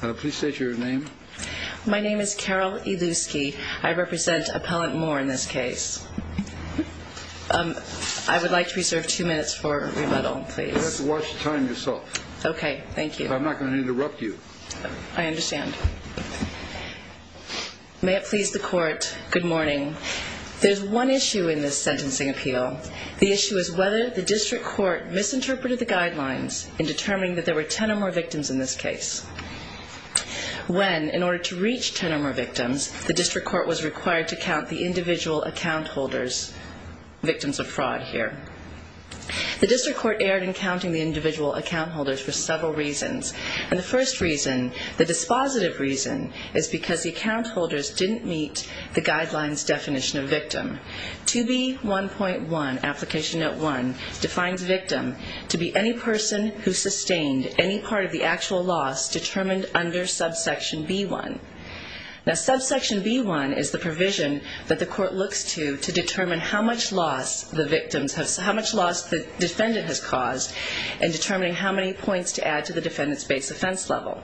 Please state your name. My name is Carol Eluski. I represent Appellant Moore in this case. I would like to reserve two minutes for rebuttal, please. You'll have to watch the time yourself. Okay, thank you. I'm not going to interrupt you. I understand. May it please the court, good morning. There's one issue in this sentencing appeal. The issue is whether the district court misinterpreted the guidelines in determining that there were ten or more victims in this case. When, in order to reach ten or more victims, the district court was required to count the individual account holders, victims of fraud here. The district court erred in counting the individual account holders for several reasons. And the first reason, the dispositive reason, is because the account holders didn't meet the guidelines definition of victim. 2B1.1, application note one, defines victim to be any person who sustained any part of the actual loss determined under subsection B1. Now subsection B1 is the provision that the court looks to to determine how much loss the defendant has caused and determining how many points to add to the defendant's base offense level.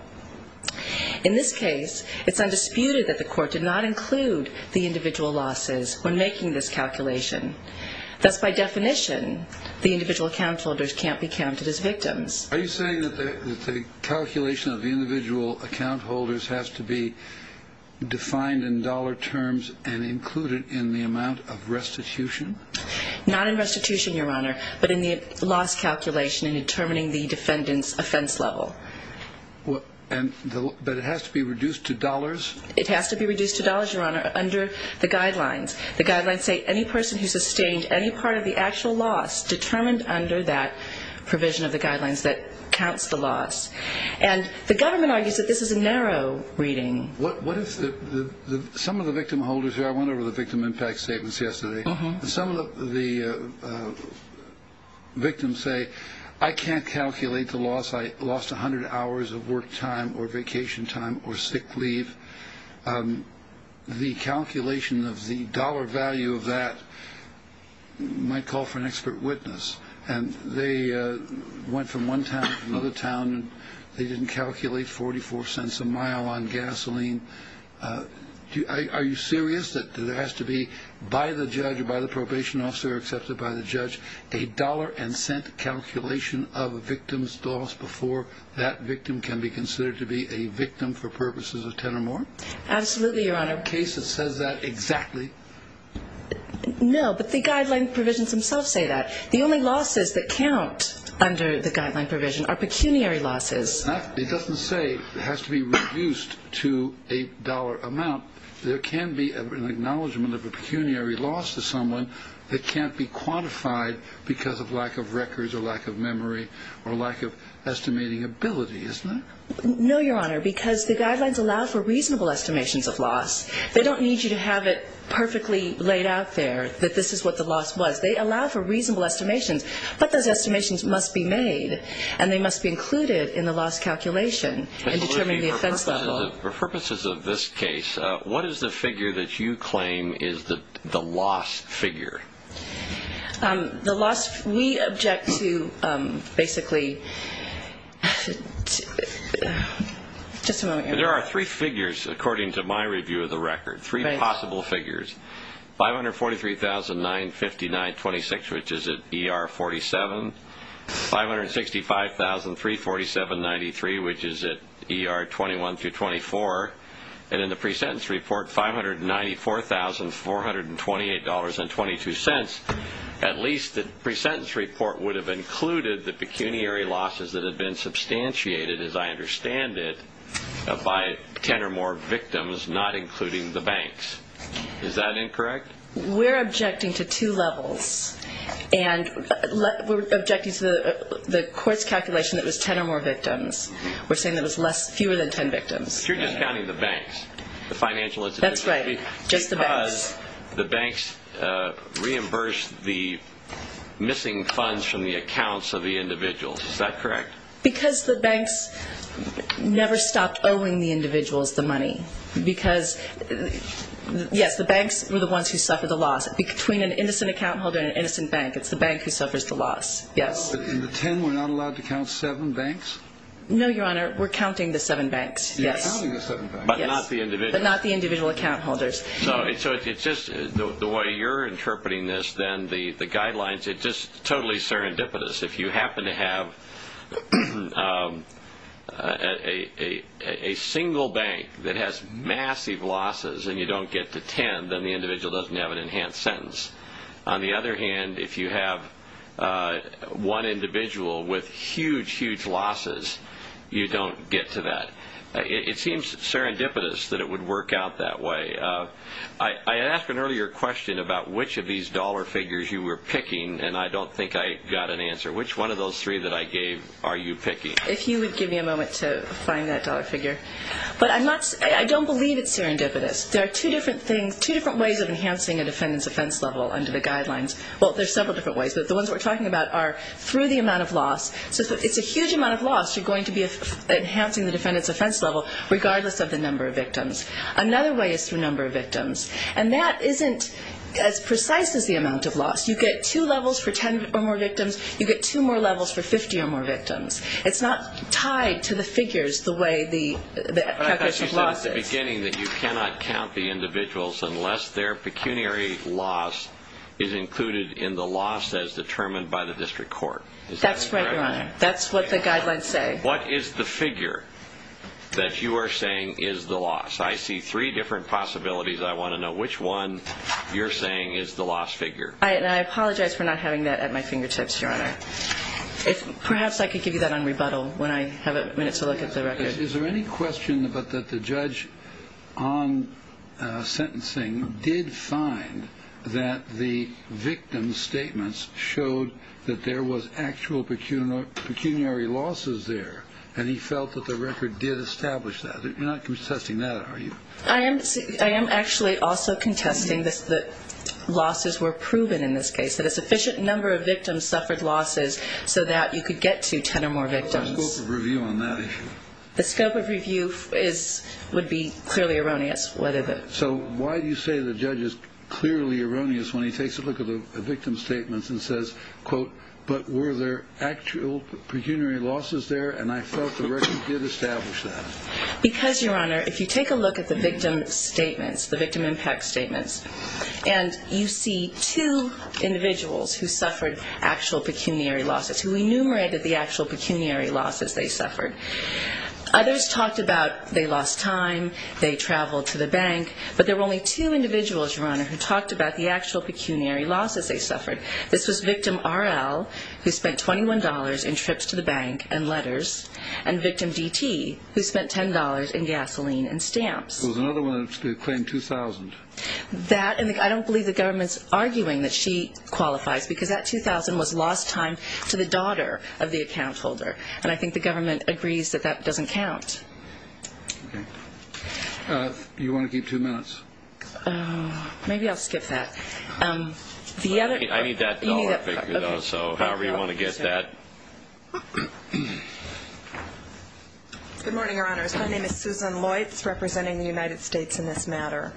In this case, it's undisputed that the court did not include the individual losses when making this calculation. Thus, by definition, the individual account holders can't be counted as victims. Are you saying that the calculation of the individual account holders has to be defined in dollar terms and included in the amount of restitution? Not in restitution, Your Honor, but in the loss calculation in determining the defendant's offense level. But it has to be reduced to dollars? It has to be reduced to dollars, Your Honor, under the guidelines. The guidelines say any person who sustained any part of the actual loss determined under that provision of the guidelines that counts the loss. And the government argues that this is a narrow reading. Some of the victim holders here, I went over the victim impact statements yesterday. Some of the victims say, I can't calculate the loss. I lost 100 hours of work time or vacation time or sick leave. The calculation of the dollar value of that might call for an expert witness. And they went from one town to another town. They didn't calculate 44 cents a mile on gasoline. Are you serious that there has to be, by the judge or by the probation officer or accepted by the judge, a dollar and cent calculation of a victim's loss before that victim can be considered to be a victim for purposes of 10 or more? Absolutely, Your Honor. In the case, it says that exactly. No, but the guideline provisions themselves say that. The only losses that count under the guideline provision are pecuniary losses. It doesn't say it has to be reduced to a dollar amount. There can be an acknowledgment of a pecuniary loss to someone that can't be quantified because of lack of records or lack of memory or lack of estimating ability, isn't it? No, Your Honor, because the guidelines allow for reasonable estimations of loss. They don't need you to have it perfectly laid out there that this is what the loss was. They allow for reasonable estimations, but those estimations must be made and they must be included in the loss calculation in determining the offense level. For purposes of this case, what is the figure that you claim is the loss figure? The loss, we object to basically, just a moment, Your Honor. There are three figures, according to my review of the record, three possible figures. $543,959.26, which is at ER 47. $565,347.93, which is at ER 21-24. And in the pre-sentence report, $594,428.22. At least the pre-sentence report would have included the pecuniary losses that have been substantiated, as I understand it, by 10 or more victims, not including the banks. Is that incorrect? We're objecting to two levels. And we're objecting to the court's calculation that it was 10 or more victims. We're saying that it was fewer than 10 victims. You're just counting the banks, the financial institutions. That's right, just the banks. Because the banks reimbursed the missing funds from the accounts of the individuals, is that correct? Because the banks never stopped owing the individuals the money. Because, yes, the banks were the ones who suffered the loss. Between an innocent account holder and an innocent bank, it's the bank who suffers the loss, yes. In the 10, we're not allowed to count seven banks? No, Your Honor, we're counting the seven banks, yes. But not the individual account holders. So it's just the way you're interpreting this, then, the guidelines, it's just totally serendipitous. If you happen to have a single bank that has massive losses and you don't get to 10, then the individual doesn't have an enhanced sentence. On the other hand, if you have one individual with huge, huge losses, you don't get to that. It seems serendipitous that it would work out that way. I asked an earlier question about which of these dollar figures you were picking, and I don't think I got an answer. Which one of those three that I gave are you picking? If you would give me a moment to find that dollar figure. But I don't believe it's serendipitous. There are two different ways of enhancing a defendant's offense level under the guidelines. Well, there are several different ways, but the ones we're talking about are through the amount of loss. So if it's a huge amount of loss, you're going to be enhancing the defendant's offense level regardless of the number of victims. Another way is through number of victims. And that isn't as precise as the amount of loss. You get two levels for 10 or more victims. You get two more levels for 50 or more victims. It's not tied to the figures the way the package of losses. But I thought you said at the beginning that you cannot count the individuals unless their pecuniary loss is included in the loss as determined by the district court. That's right, Your Honor. That's what the guidelines say. What is the figure that you are saying is the loss? I see three different possibilities. I want to know which one you're saying is the loss figure. And I apologize for not having that at my fingertips, Your Honor. Perhaps I could give you that on rebuttal when I have a minute to look at the record. Is there any question that the judge on sentencing did find that the victim's statements showed that there was actual pecuniary losses there, and he felt that the record did establish that? You're not contesting that, are you? I am actually also contesting that losses were proven in this case, that a sufficient number of victims suffered losses so that you could get to 10 or more victims. What's the scope of review on that issue? The scope of review would be clearly erroneous. So why do you say the judge is clearly erroneous when he takes a look at the victim's statements and says, quote, but were there actual pecuniary losses there, and I felt the record did establish that? Because, Your Honor, if you take a look at the victim's statements, the victim impact statements, and you see two individuals who suffered actual pecuniary losses, who enumerated the actual pecuniary losses they suffered. Others talked about they lost time, they traveled to the bank, but there were only two individuals, Your Honor, who talked about the actual pecuniary losses they suffered. This was victim R.L., who spent $21 in trips to the bank and letters, and victim D.T., who spent $10 in gasoline and stamps. There was another one that claimed $2,000. I don't believe the government's arguing that she qualifies, because that $2,000 was lost time to the daughter of the account holder, and I think the government agrees that that doesn't count. Do you want to keep two minutes? Maybe I'll skip that. I need that dollar figure, though, so however you want to get that. Good morning, Your Honors. My name is Susan Loitz, representing the United States in this matter.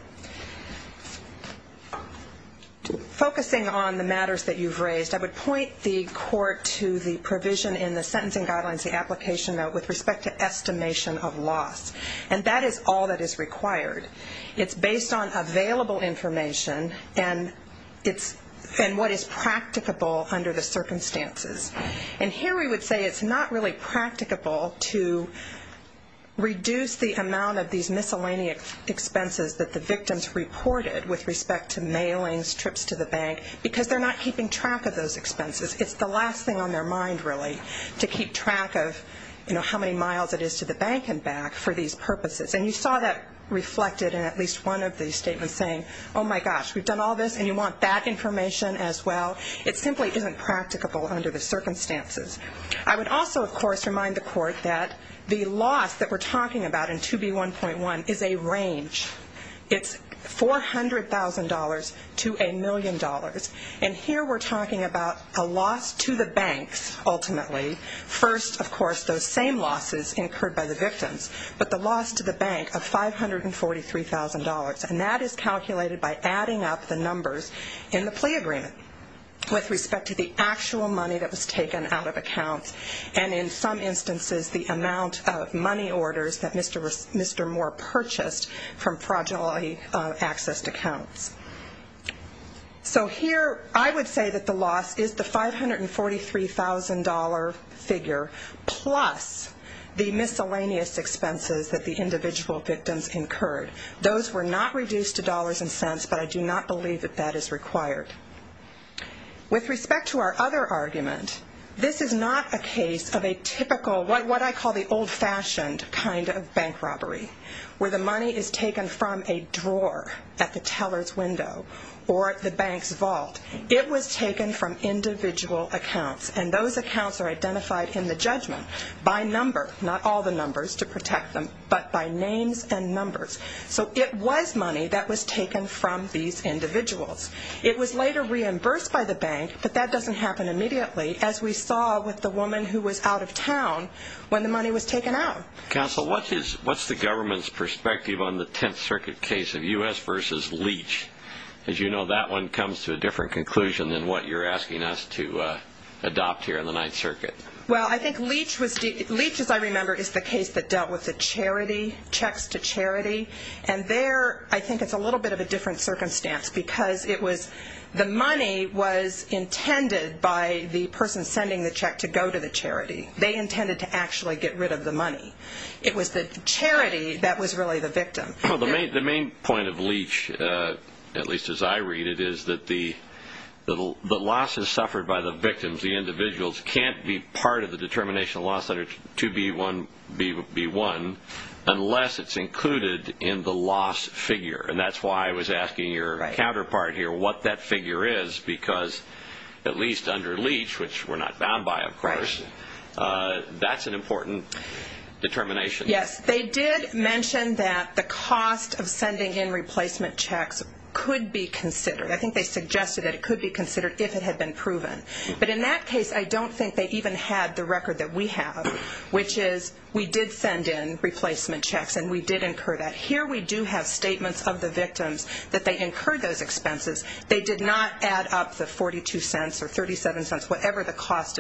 Focusing on the matters that you've raised, I would point the Court to the provision in the Sentencing Guidelines, the application note, with respect to estimation of loss, and that is all that is required. It's based on available information and what is practicable under the circumstances. And here we would say it's not really practicable to reduce the amount of these miscellaneous expenses that the victims reported with respect to mailings, trips to the bank, because they're not keeping track of those expenses. It's the last thing on their mind, really, to keep track of how many miles it is to the bank and back for these purposes. And you saw that reflected in at least one of the statements saying, oh, my gosh, we've done all this, and you want that information as well. It simply isn't practicable under the circumstances. I would also, of course, remind the Court that the loss that we're talking about in 2B1.1 is a range. It's $400,000 to a million dollars. And here we're talking about a loss to the banks, ultimately. First, of course, those same losses incurred by the victims, but the loss to the bank of $543,000, and that is calculated by adding up the numbers in the plea agreement with respect to the actual money that was taken out of accounts and, in some instances, the amount of money orders that Mr. Moore purchased from fraudulently accessed accounts. So here I would say that the loss is the $543,000 figure plus the miscellaneous expenses that the individual victims incurred. Those were not reduced to dollars and cents, but I do not believe that that is required. With respect to our other argument, this is not a case of a typical what I call the old-fashioned kind of bank robbery where the money is taken from a drawer at the teller's window or at the bank's vault. It was taken from individual accounts, and those accounts are identified in the judgment by number, not all the numbers to protect them, but by names and numbers. So it was money that was taken from these individuals. It was later reimbursed by the bank, but that doesn't happen immediately, as we saw with the woman who was out of town when the money was taken out. Counsel, what's the government's perspective on the Tenth Circuit case of U.S. v. Leach? As you know, that one comes to a different conclusion than what you're asking us to adopt here in the Ninth Circuit. Well, I think Leach, as I remember, is the case that dealt with the charity, checks to charity, and there I think it's a little bit of a different circumstance because the money was intended by the person sending the check to go to the charity. They intended to actually get rid of the money. It was the charity that was really the victim. Well, the main point of Leach, at least as I read it, is that the losses suffered by the victims, the individuals, can't be part of the determination of loss under 2B1 unless it's included in the loss figure, and that's why I was asking your counterpart here what that figure is because at least under Leach, which we're not bound by, of course, that's an important determination. Yes, they did mention that the cost of sending in replacement checks could be considered. I think they suggested that it could be considered if it had been proven. But in that case, I don't think they even had the record that we have, which is we did send in replacement checks and we did incur that. Here we do have statements of the victims that they incurred those expenses. They did not add up the $0.42 or $0.37, whatever the cost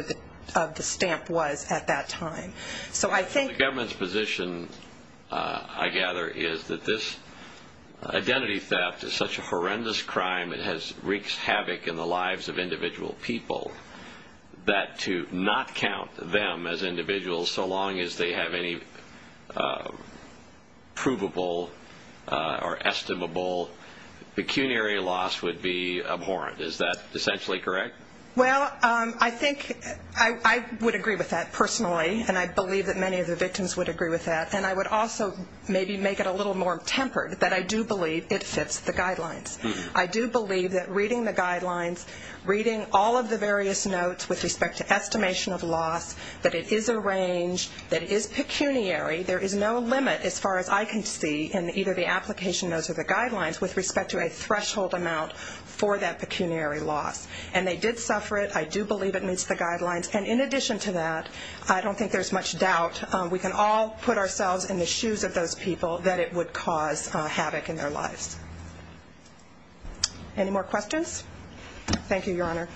of the stamp was at that time. The government's position, I gather, is that this identity theft is such a horrendous crime. It wreaks havoc in the lives of individual people that to not count them as individuals so long as they have any provable or estimable pecuniary loss would be abhorrent. Is that essentially correct? Well, I think I would agree with that personally, and I believe that many of the victims would agree with that. And I would also maybe make it a little more tempered that I do believe it fits the guidelines. I do believe that reading the guidelines, reading all of the various notes with respect to estimation of loss, that it is a range, that it is pecuniary. There is no limit as far as I can see in either the application notes or the guidelines with respect to a threshold amount for that pecuniary loss. And they did suffer it. I do believe it meets the guidelines. And in addition to that, I don't think there's much doubt. We can all put ourselves in the shoes of those people that it would cause havoc in their lives. Any more questions? Thank you, Your Honor.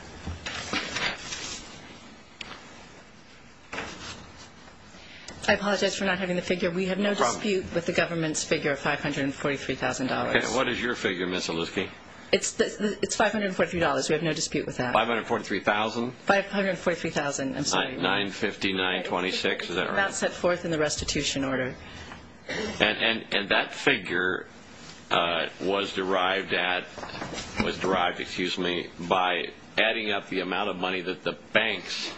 I apologize for not having the figure. We have no dispute with the government's figure of $543,000. And what is your figure, Ms. Olitski? It's $543. We have no dispute with that. $543,000? $543,000. I'm sorry. $959.26, is that right? About set forth in the restitution order. And that figure was derived at, was derived, excuse me, by adding up the amount of money that the banks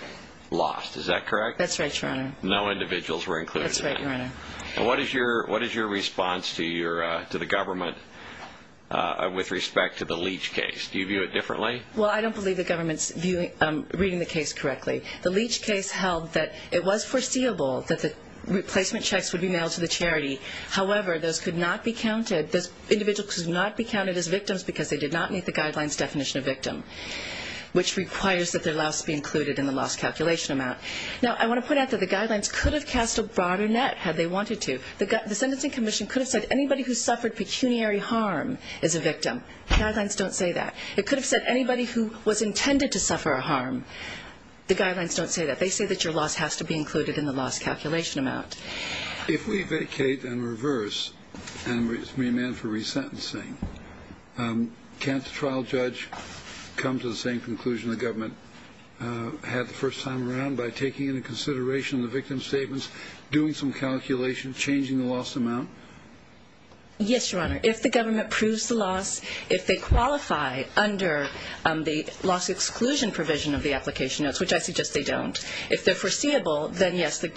lost. Is that correct? That's right, Your Honor. No individuals were included. That's right, Your Honor. And what is your response to the government with respect to the Leach case? Do you view it differently? Well, I don't believe the government's reading the case correctly. The Leach case held that it was foreseeable that the replacement checks would be mailed to the charity. However, those could not be counted, those individuals could not be counted as victims because they did not meet the guidelines definition of victim, which requires that their loss be included in the loss calculation amount. Now, I want to point out that the guidelines could have cast a broader net had they wanted to. The Sentencing Commission could have said anybody who suffered pecuniary harm is a victim. Guidelines don't say that. It could have said anybody who was intended to suffer a harm. The guidelines don't say that. They say that your loss has to be included in the loss calculation amount. If we vacate and reverse and remand for resentencing, can't the trial judge come to the same conclusion the government had the first time around by taking into consideration the victim's statements, doing some calculations, changing the loss amount? Yes, Your Honor. If the government proves the loss, if they qualify under the loss exclusion provision of the application notes, which I suggest they don't, if they're foreseeable, then yes, the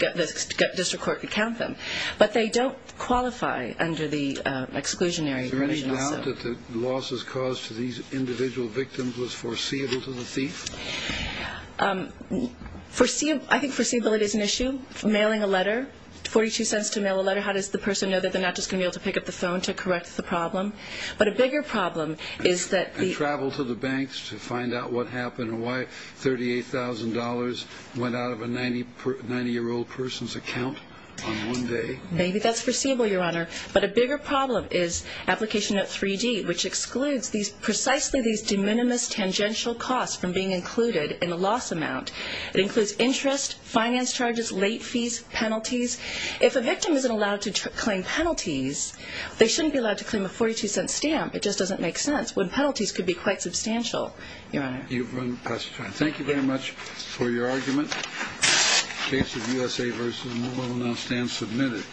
district court could count them. But they don't qualify under the exclusionary provision. Can you point out that the losses caused to these individual victims was foreseeable to the thief? I think foreseeability is an issue. Mailing a letter, 42 cents to mail a letter, how does the person know that they're not just going to be able to pick up the phone to correct the problem? But a bigger problem is that the – And travel to the banks to find out what happened and why $38,000 went out of a 90-year-old person's account on one day. Maybe that's foreseeable, Your Honor. But a bigger problem is application note 3D, which excludes precisely these de minimis tangential costs from being included in the loss amount. It includes interest, finance charges, late fees, penalties. If a victim isn't allowed to claim penalties, they shouldn't be allowed to claim a 42-cent stamp. It just doesn't make sense when penalties could be quite substantial, Your Honor. Thank you very much for your argument. The case of USA vs. New Orleans now stands submitted.